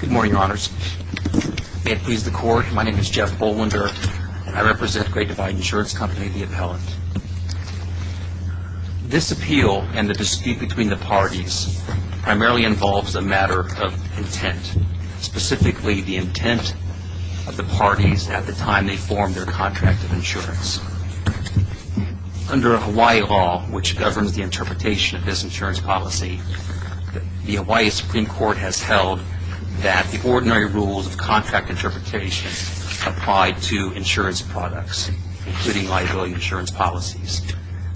Good morning, Your Honors. May it please the Court, my name is Jeff Bollender and I represent Great Divide Insurance Company, the appellant. This appeal and the dispute between the parties primarily involves a matter of intent, specifically the intent of the parties at the time they formed their contract of insurance. Under Hawaii law, which governs the interpretation of this insurance policy, the Hawaii Supreme Court has held that the ordinary rules of contract interpretation apply to insurance products, including liability insurance policies.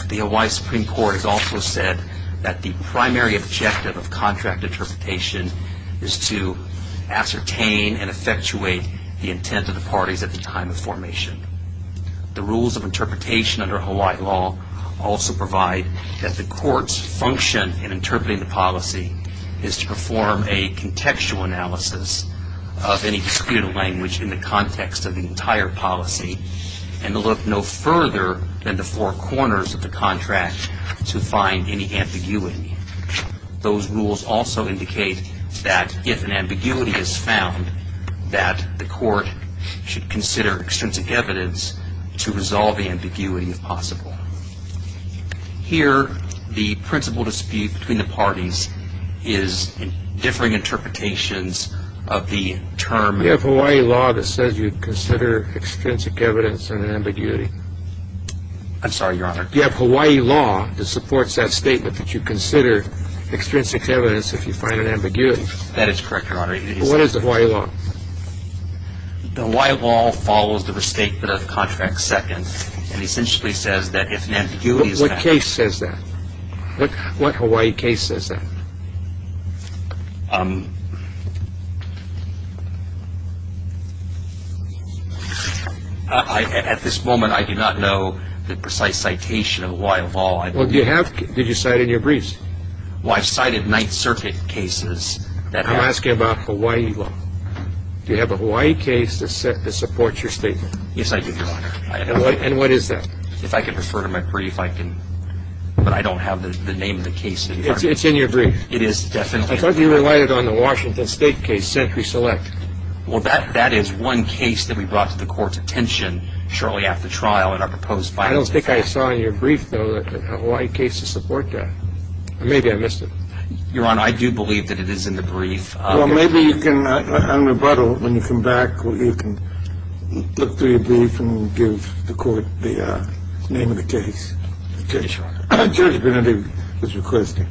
The Hawaii Supreme Court has also said that the primary objective of contract interpretation is to ascertain and effectuate the intent of the parties at the time of formation. The function in interpreting the policy is to perform a contextual analysis of any disputed language in the context of the entire policy and to look no further than the four corners of the contract to find any ambiguity. Those rules also indicate that if an ambiguity is found that the court should consider extrinsic evidence to resolve the ambiguity if possible. Here, the principal dispute between the parties is differing interpretations of the term... You have Hawaii law that says you consider extrinsic evidence in an ambiguity. I'm sorry, Your Honor. You have Hawaii law that supports that statement that you consider extrinsic evidence if you find an ambiguity. That is correct, Your Honor. What is the Hawaii law? The Hawaii law follows the restatement of contract second and essentially says that if an ambiguity is found... What case says that? What Hawaii case says that? At this moment, I do not know the precise citation of Hawaii law. Well, do you have? Did you cite in your briefs? Well, I've cited Ninth Circuit cases that have... I'm asking about Hawaii law. Do you have a Hawaii case that supports your statement? Yes, I do, Your Honor. And what is that? If I could refer to my brief, I can, but I don't have the name of the case in front of me. It's in your brief? It is definitely in my brief. I thought you relied on the Washington State case, Century Select. Well, that is one case that we brought to the court's attention shortly after trial in our proposed... I don't think I saw in your brief, though, a Hawaii case to support that. Maybe I missed it. Your Honor, I do believe that it is in the brief. Well, maybe you can, on rebuttal, when you come back, you can look through your brief and give the court the name of the case. Sure. Judge Benedict is requesting.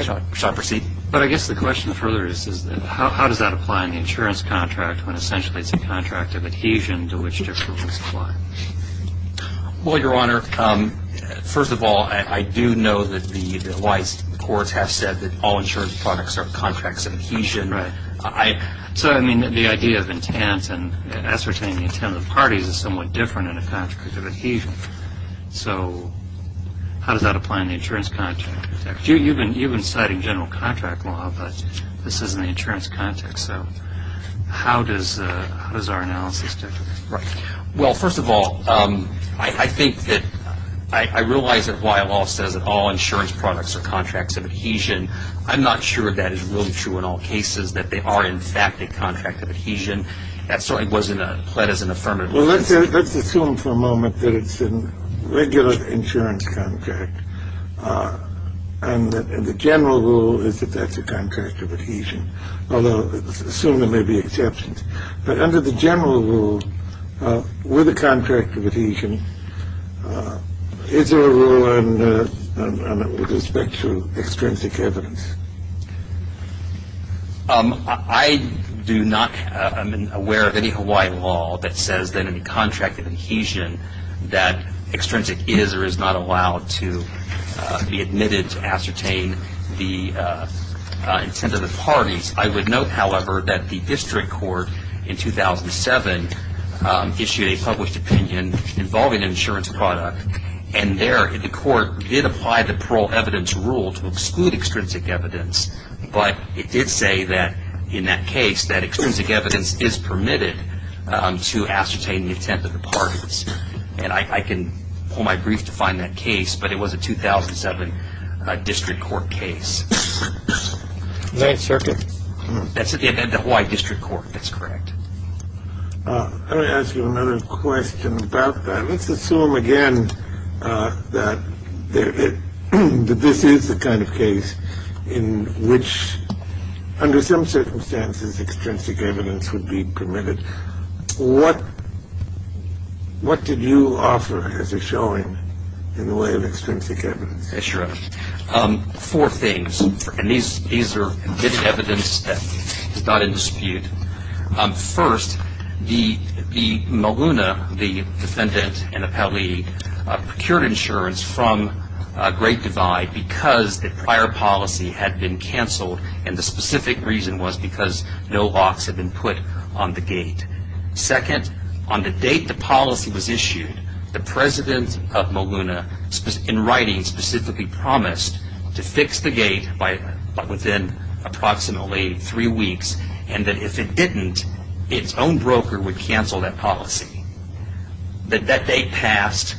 Shall I proceed? But I guess the question further is how does that apply in the insurance contract when essentially it's a contract of adhesion to which different rules apply? Well, Your Honor, first of all, I do know that the Hawaii courts have said that all insurance products are contracts of adhesion. Right. So, I mean, the idea of intent and ascertaining the intent of the parties is somewhat different in a contract of adhesion. So how does that apply in the insurance contract? You've been citing general contract law, but this is in the insurance context. So how does our analysis differ? Right. Well, first of all, I think that I realize that Hawaii law says that all insurance products are contracts of adhesion. I'm not sure that is really true in all cases, that they are, in fact, a contract of adhesion. That certainly wasn't pled as an affirmative. Well, let's assume for a moment that it's a regular insurance contract. And the general rule is that that's a contract of adhesion, although assume there may be exceptions. But under the general rule, with a contract of adhesion, is there a rule with respect to extrinsic evidence? I do not am aware of any Hawaii law that says that in a contract of adhesion that extrinsic is or is not allowed to be admitted to ascertain the intent of the parties. I would note, however, that the district court in 2007 issued a published opinion involving an insurance product, and there the court did apply the parole evidence rule to exclude extrinsic evidence. But it did say that in that case that extrinsic evidence is permitted to ascertain the intent of the parties. And I can pull my brief to find that case, but it was a 2007 district court case. Ninth Circuit. That's at the end of the Hawaii district court. That's correct. Let me ask you another question about that. Let's assume again that this is the kind of case in which, under some circumstances, extrinsic evidence would be permitted. What did you offer as a showing in the way of extrinsic evidence? Yes, Your Honor. Four things. And these are evidence that is not in dispute. First, the maluna, the defendant and appellee, procured insurance from Great Divide because the prior policy had been canceled, and the specific reason was because no locks had been put on the gate. Second, on the date the policy was issued, the president of Maluna, in writing, specifically promised to fix the gate within approximately three weeks, and that if it didn't, its own broker would cancel that policy. That date passed,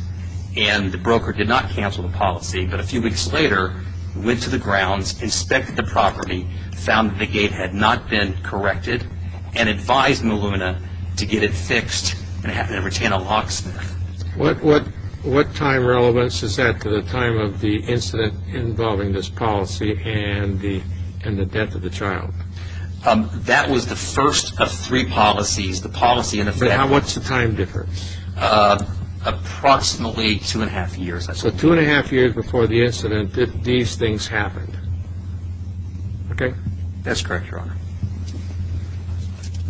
and the broker did not cancel the policy, but a few weeks later went to the grounds, inspected the property, found that the gate had not been corrected, and advised Maluna to get it fixed and retain a locksmith. What time relevance is that to the time of the incident involving this policy and the death of the child? That was the first of three policies. What's the time difference? Approximately two and a half years. So two and a half years before the incident, these things happened. Okay? That's correct, Your Honor.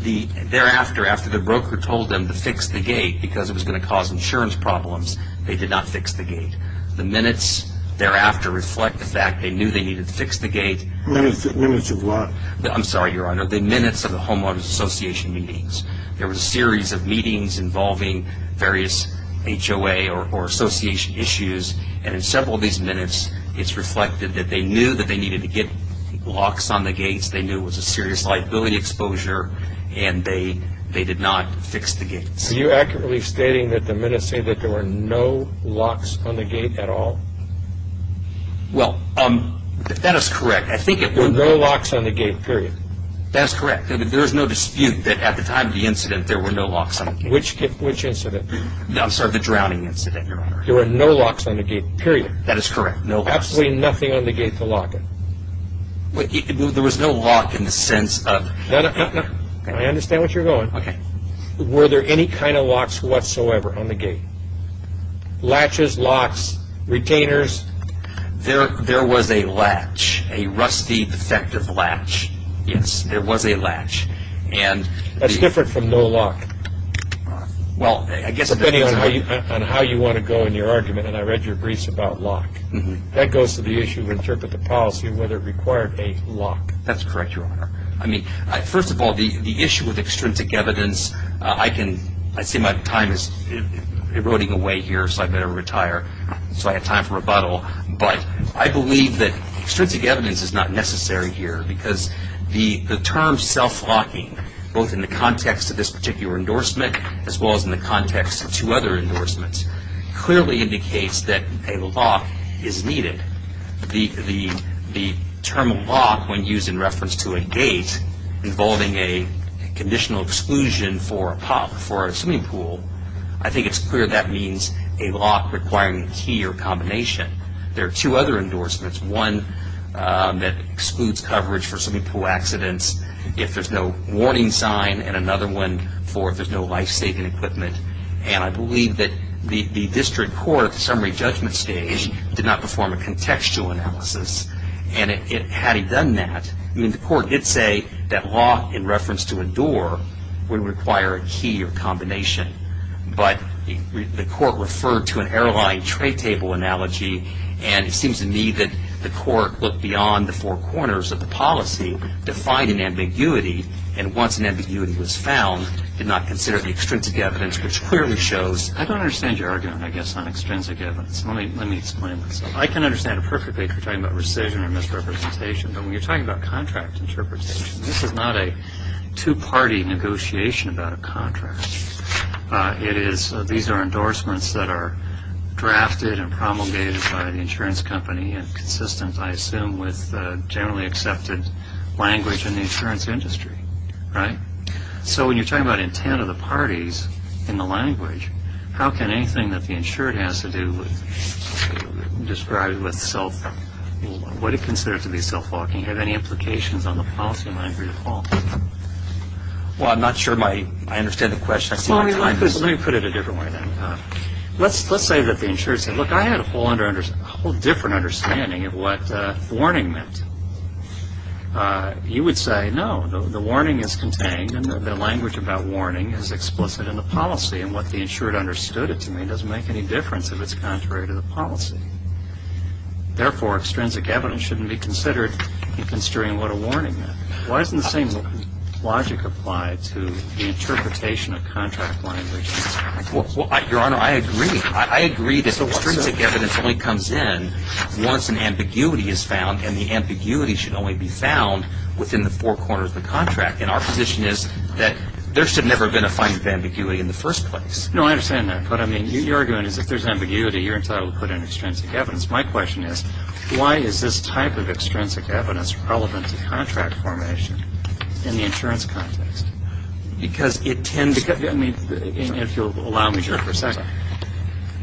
Thereafter, after the broker told them to fix the gate because it was going to cause insurance problems, they did not fix the gate. The minutes thereafter reflect the fact they knew they needed to fix the gate. Minutes of what? I'm sorry, Your Honor. The minutes of the homeowners association meetings. There was a series of meetings involving various HOA or association issues, and in several of these minutes it's reflected that they knew that they needed to get locks on the gates, they knew it was a serious liability exposure, and they did not fix the gates. Are you accurately stating that the minutes say that there were no locks on the gate at all? Well, that is correct. There were no locks on the gate, period. That is correct. There is no dispute that at the time of the incident there were no locks on the gate. Which incident? I'm sorry, the drowning incident, Your Honor. There were no locks on the gate, period. That is correct, no locks. Absolutely nothing on the gate to lock it. There was no lock in the sense of... No, no, no. I understand what you're going. Okay. Were there any kind of locks whatsoever on the gate? Latches, locks, retainers? There was a latch, a rusty defective latch. Yes, there was a latch. That's different from no lock. Well, I guess... Depending on how you want to go in your argument, and I read your briefs about lock. That goes to the issue of interpret the policy of whether it required a lock. That's correct, Your Honor. I mean, first of all, the issue with extrinsic evidence, I can, I see my time is eroding away here, so I better retire so I have time for rebuttal, but I believe that extrinsic evidence is not necessary here because the term self-locking, both in the context of this particular endorsement as well as in the context of two other endorsements, clearly indicates that a lock is needed. The term lock, when used in reference to a gate involving a conditional exclusion for a swimming pool, I think it's clear that means a lock requiring a key or combination. There are two other endorsements, one that excludes coverage for swimming pool accidents if there's no warning sign, and another one for if there's no life-saving equipment, and I believe that the district court at the summary judgment stage did not perform a contextual analysis, and had he done that, I mean, the court did say that lock in reference to a door would require a key or combination, but the court referred to an airline tray table analogy, and it seems to me that the court looked beyond the four corners of the policy to find an ambiguity, and once an ambiguity was found, did not consider the extrinsic evidence, which clearly shows. I don't understand your argument, I guess, on extrinsic evidence. Let me explain myself. I can understand it perfectly if you're talking about rescission or misrepresentation, but when you're talking about contract interpretation, this is not a two-party negotiation about a contract. These are endorsements that are drafted and promulgated by the insurance company, and consistent, I assume, with generally accepted language in the insurance industry, right? So when you're talking about intent of the parties in the language, how can anything that the insured has to do with what it considers to be self-talking have any implications on the policy language at all? Well, I'm not sure I understand the question. Let me put it a different way then. Let's say that the insured said, look, I had a whole different understanding of what warning meant. You would say, no, the warning is contained, and the language about warning is explicit in the policy, and what the insured understood it to mean doesn't make any difference if it's contrary to the policy. Therefore, extrinsic evidence shouldn't be considered in considering what a warning meant. Why doesn't the same logic apply to the interpretation of contract language? Your Honor, I agree. I agree that extrinsic evidence only comes in once an ambiguity is found, and the ambiguity should only be found within the four corners of the contract. And our position is that there should never have been a finding of ambiguity in the first place. No, I understand that. What I mean, what you're arguing is if there's ambiguity, you're entitled to put in extrinsic evidence. My question is, why is this type of extrinsic evidence relevant to contract formation in the insurance context? Because it tends to get, I mean, if you'll allow me here for a second.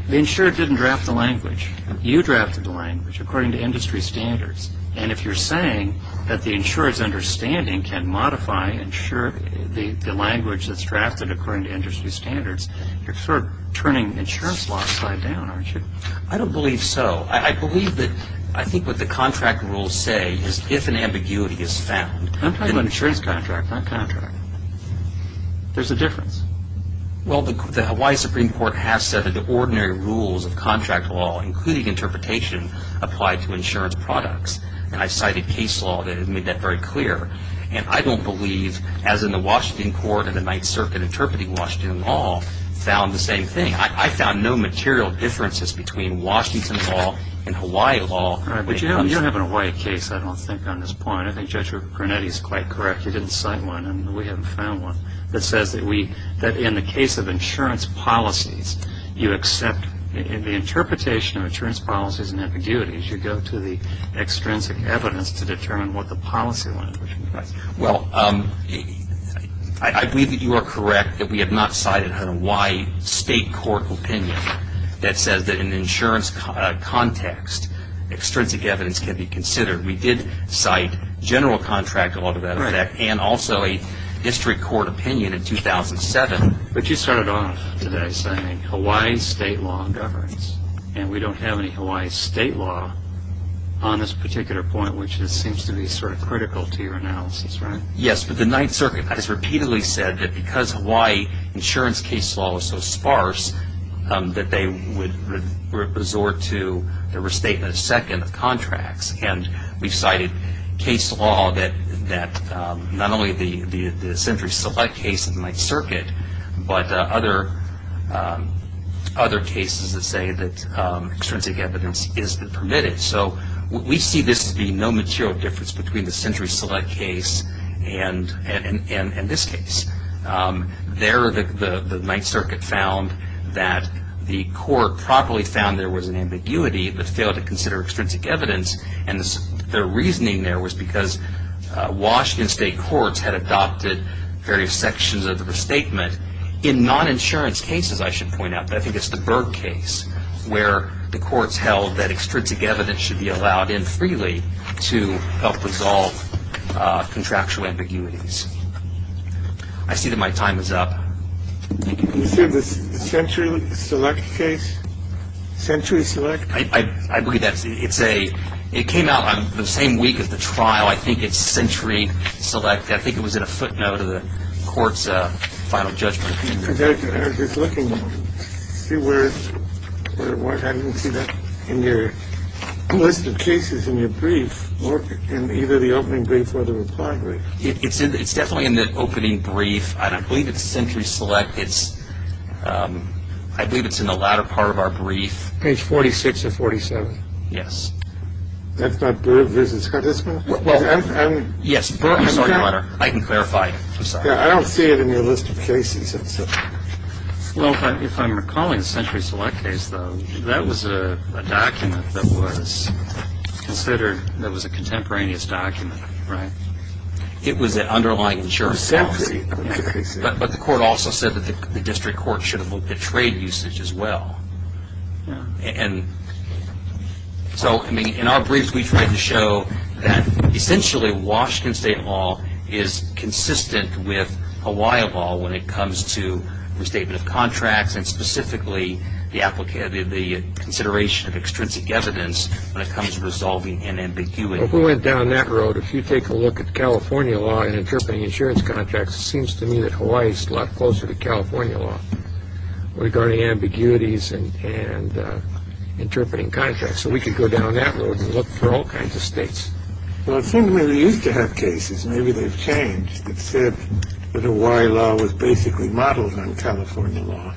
The insured didn't draft the language. You drafted the language according to industry standards. And if you're saying that the insured's understanding can modify the language that's drafted according to industry standards, you're sort of turning the insurance law upside down, aren't you? I don't believe so. I believe that I think what the contract rules say is if an ambiguity is found. I'm talking about an insurance contract, not contract. There's a difference. Well, the Hawaii Supreme Court has said that the ordinary rules of contract law, including interpretation, apply to insurance products. And I cited case law that made that very clear. And I don't believe, as in the Washington court and the Ninth Circuit interpreting Washington law, found the same thing. I found no material differences between Washington law and Hawaii law. But you don't have a Hawaii case, I don't think, on this point. I think Judge Brunetti's quite correct. He didn't cite one, and we haven't found one, that says that in the case of insurance policies, you accept the interpretation of insurance policies and ambiguities. You go to the extrinsic evidence to determine what the policy language implies. Well, I believe that you are correct that we have not cited a Hawaii state court opinion that says that in an insurance context, extrinsic evidence can be considered. We did cite general contract law to that effect, and also a district court opinion in 2007. But you started off today saying Hawaii state law governs, and we don't have any Hawaii state law on this particular point, which seems to be sort of critical to your analysis, right? Yes, but the Ninth Circuit has repeatedly said that because Hawaii insurance case law is so sparse, that they would resort to the restatement of second contracts. And we've cited case law that not only the Century Select case in the Ninth Circuit, but other cases that say that extrinsic evidence is permitted. So we see this to be no material difference between the Century Select case and this case. There, the Ninth Circuit found that the court properly found there was an ambiguity that failed to consider extrinsic evidence. And their reasoning there was because Washington state courts had adopted various sections of the restatement. In non-insurance cases, I should point out, I think it's the Berg case where the courts held that extrinsic evidence should be allowed in freely to help resolve contractual ambiguities. I see that my time is up. Thank you. You said the Century Select case? Century Select? I believe that. It came out the same week as the trial. I think it's Century Select. I think it was in a footnote of the court's final judgment. I was just looking to see where it was. I didn't see that in your list of cases in your brief, in either the opening brief or the reply brief. It's definitely in the opening brief. I believe it's Century Select. I believe it's in the latter part of our brief. Page 46 or 47? Yes. That's not Berg v. Scudisma? Yes. I'm sorry, Your Honor. I can clarify. I'm sorry. I don't see it in your list of cases. Well, if I'm recalling the Century Select case, though, that was a document that was considered that was a contemporaneous document, right? It was an underlying insurance policy. But the court also said that the district court should have looked at trade usage as well. And so, I mean, in our briefs, we tried to show that essentially Washington State law is consistent with Hawaii law when it comes to restatement of contracts and specifically the consideration of extrinsic evidence when it comes to resolving an ambiguity. If we went down that road, if you take a look at California law in interpreting insurance contracts, it seems to me that Hawaii is a lot closer to California law regarding ambiguities and interpreting contracts. So we could go down that road and look for all kinds of states. Well, it seems to me they used to have cases, maybe they've changed, that said that Hawaii law was basically modeled on California law.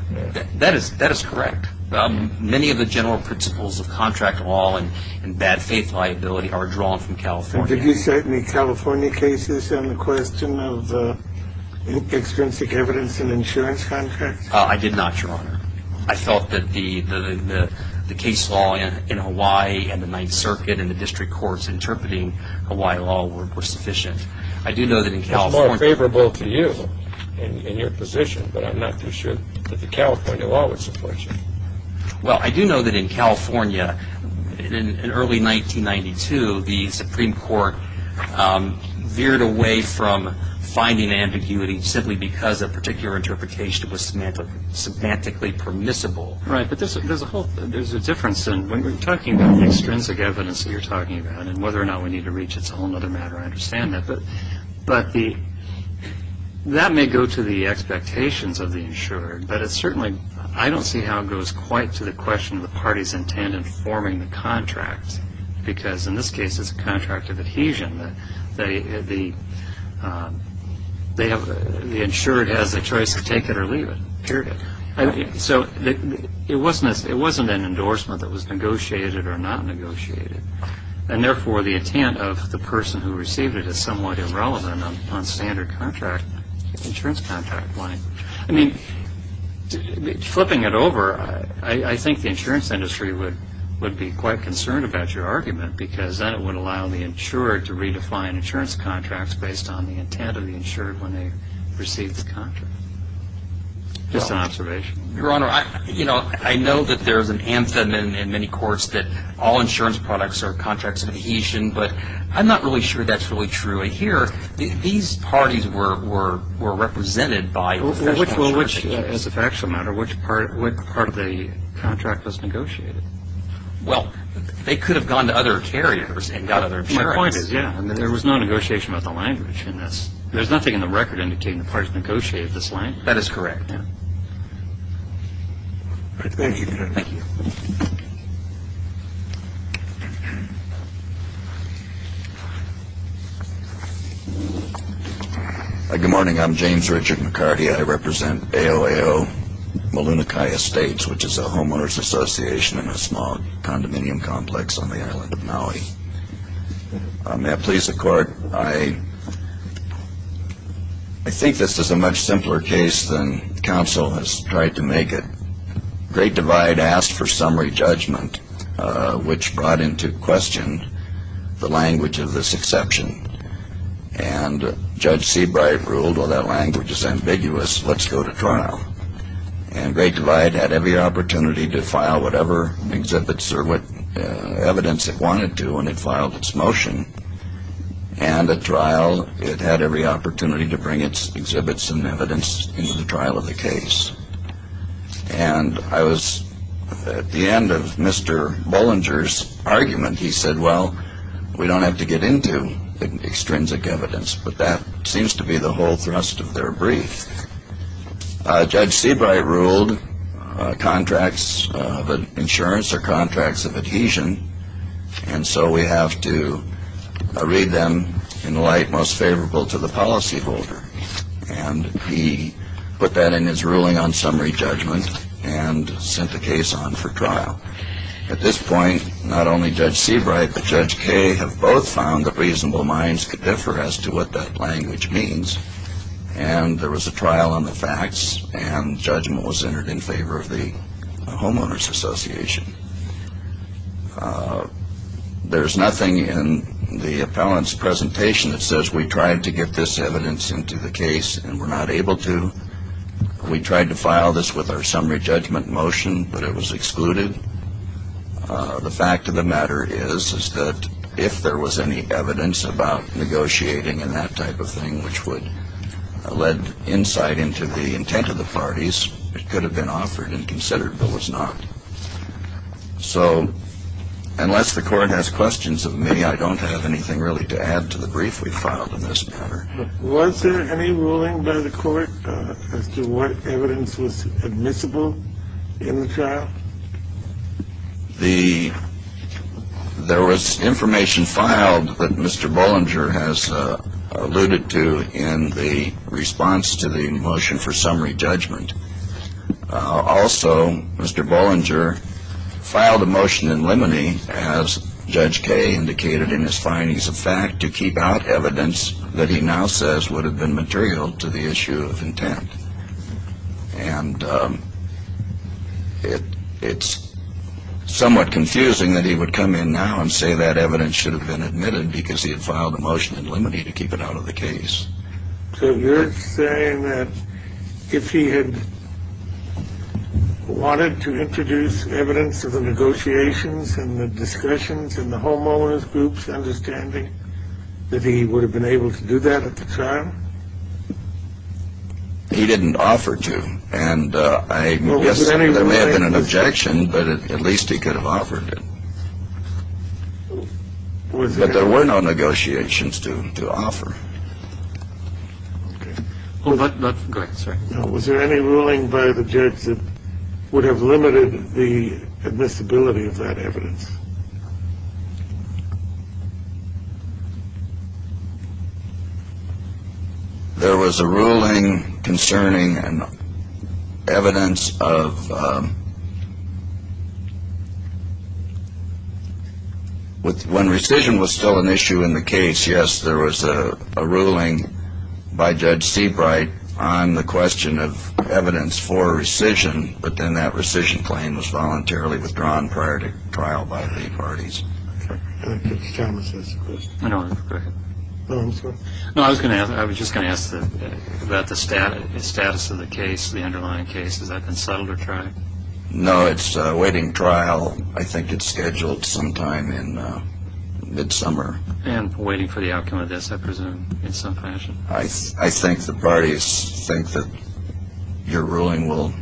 That is correct. Many of the general principles of contract law and bad faith liability are drawn from California. Did you cite any California cases in the question of extrinsic evidence in insurance contracts? I did not, Your Honor. I felt that the case law in Hawaii and the Ninth Circuit and the district courts interpreting Hawaii law were sufficient. I do know that in California... It's more favorable to you in your position, but I'm not too sure that the California law was sufficient. Well, I do know that in California, in early 1992, the Supreme Court veered away from finding ambiguity simply because a particular interpretation was semantically permissible. Right, but there's a whole... There's a difference in when we're talking about the extrinsic evidence that you're talking about and whether or not we need to reach. It's a whole other matter. I understand that. But that may go to the expectations of the insured, but it certainly... I don't see how it goes quite to the question of the party's intent in forming the contract because, in this case, it's a contract of adhesion. The insured has a choice to take it or leave it, period. So it wasn't an endorsement that was negotiated or not negotiated, and, therefore, the intent of the person who received it is somewhat irrelevant on standard insurance contract. I mean, flipping it over, I think the insurance industry would be quite concerned about your argument because then it would allow the insured to redefine insurance contracts based on the intent of the insured when they received the contract. Just an observation. Your Honor, I know that there's an anthem in many courts that all insurance products are contracts of adhesion, but I'm not really sure that's really true here. These parties were represented by... Well, as a factual matter, which part of the contract was negotiated? Well, they could have gone to other carriers and got other insurance. My point is, yeah, there was no negotiation about the language in this. There's nothing in the record indicating the parties negotiated this language. That is correct. Thank you, Your Honor. Good morning. I'm James Richard McCarty. I represent AOAO Malunakai Estates, which is a homeowners association in a small condominium complex on the island of Maui. May I please the Court? I think this is a much simpler case than counsel has tried to make it. Great Divide asked for summary judgment, which brought into question the language of this exception. And Judge Seabright ruled, well, that language is ambiguous. Let's go to trial. And Great Divide had every opportunity to file whatever exhibits or what evidence it wanted to when it filed its motion. And at trial, it had every opportunity to bring its exhibits and evidence into the trial of the case. And I was at the end of Mr. Bollinger's argument. He said, well, we don't have to get into the extrinsic evidence, but that seems to be the whole thrust of their brief. Judge Seabright ruled contracts of insurance are contracts of adhesion, and so we have to read them in the light most favorable to the policyholder. And he put that in his ruling on summary judgment and sent the case on for trial. At this point, not only Judge Seabright, but Judge Kay have both found that reasonable minds could differ as to what that language means. And there was a trial on the facts, and judgment was entered in favor of the Homeowners Association. There's nothing in the appellant's presentation that says we tried to get this evidence into the case and were not able to. We tried to file this with our summary judgment motion, but it was excluded. The fact of the matter is, is that if there was any evidence about negotiating and that type of thing, which would have led insight into the intent of the parties, it could have been offered and considered, but was not. So unless the court has questions of me, I don't have anything really to add to the brief we filed in this matter. Was there any ruling by the court as to what evidence was admissible in the trial? There was information filed that Mr. Bollinger has alluded to in the response to the motion for summary judgment. Also, Mr. Bollinger filed a motion in limine as Judge Kay indicated in his findings of fact to keep out evidence that he now says would have been material to the issue of intent. And it's somewhat confusing that he would come in now and say that evidence should have been admitted because he had filed a motion in limine to keep it out of the case. So you're saying that if he had wanted to introduce evidence of the negotiations and the discussions and the homeowners groups understanding that he would have been able to do that at the time? He didn't offer to. And I guess there may have been an objection, but at least he could have offered it. But there were no negotiations to offer. Was there any ruling by the judge that would have limited the admissibility of that evidence? There was a ruling concerning evidence of when rescission was still an issue in the case. Yes, there was a ruling by Judge Seabright on the question of evidence for rescission, but then that rescission claim was voluntarily withdrawn prior to trial by the parties. I was just going to ask about the status of the case, the underlying case. Has that been settled or tried? No, it's a waiting trial. I think it's scheduled sometime in midsummer. And waiting for the outcome of this, I presume, in some fashion. I think the parties think that your ruling will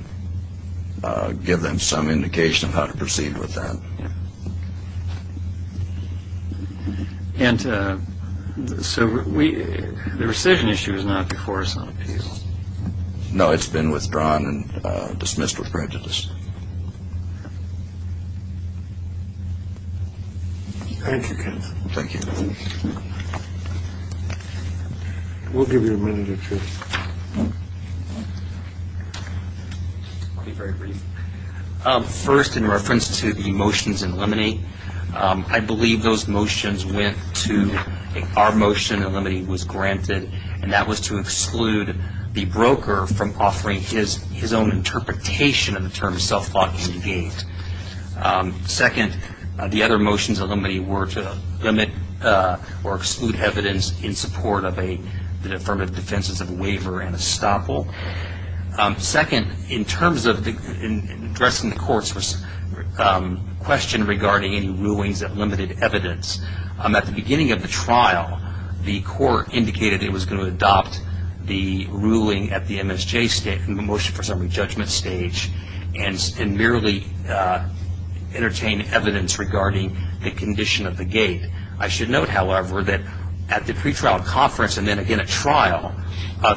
give them some indication of how to proceed with that. And so the rescission issue is not before us on the case? No, it's been withdrawn and dismissed with prejudice. Thank you, counsel. Thank you. We'll give you a minute or two. I'll be very brief. First, in reference to the motions in limine, I believe those motions went to our motion, and limine was granted, and that was to exclude the broker from offering his own interpretation of the term self-thought indicate. Second, the other motions in limine were to limit or exclude evidence in support of the affirmative defenses of waiver and estoppel. Second, in terms of addressing the court's question regarding any rulings that limited evidence, at the beginning of the trial, the court indicated it was going to adopt the ruling at the MSJ, the motion for summary judgment stage, and merely entertain evidence regarding the condition of the gate. I should note, however, that at the pretrial conference and then again at trial,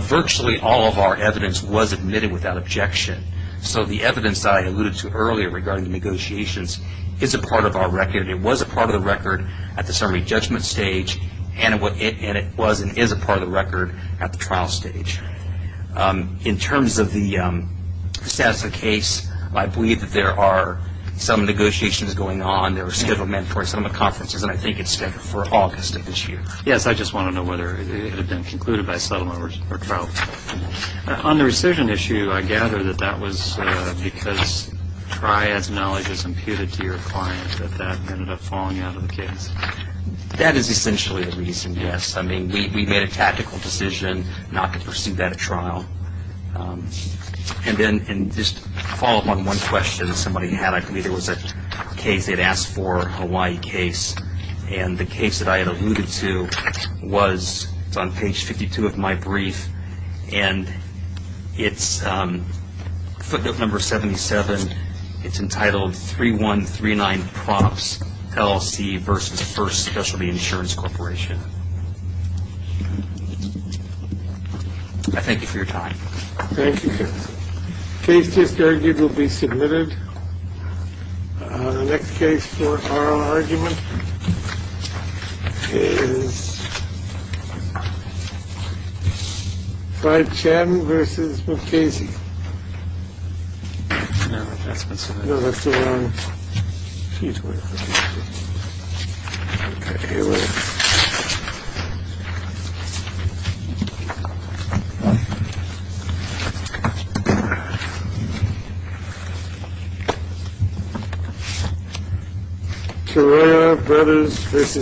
virtually all of our evidence was admitted without objection. So the evidence that I alluded to earlier regarding the negotiations is a part of our record. It was a part of the record at the summary judgment stage, and it was and is a part of the record at the trial stage. In terms of the status of the case, I believe that there are some negotiations going on. There are settlement for some of the conferences, and I think it's scheduled for August of this year. Yes, I just want to know whether it had been concluded by settlement or trial. On the rescission issue, I gather that that was because Triad's knowledge is imputed to your client that that ended up falling out of the case. That is essentially the reason, yes. I mean, we made a tactical decision not to pursue that at trial. And then just to follow up on one question that somebody had, I believe it was a case they had asked for, a Hawaii case, and the case that I had alluded to was on page 52 of my brief, and it's footnote number 77. It's entitled 3139 Props, LLC versus First Specialty Insurance Corporation. I thank you for your time. Thank you. The case just argued will be submitted. The next case for oral argument is 510 versus Casey. No, that's the wrong. He's. Here we are. This is C.I.R.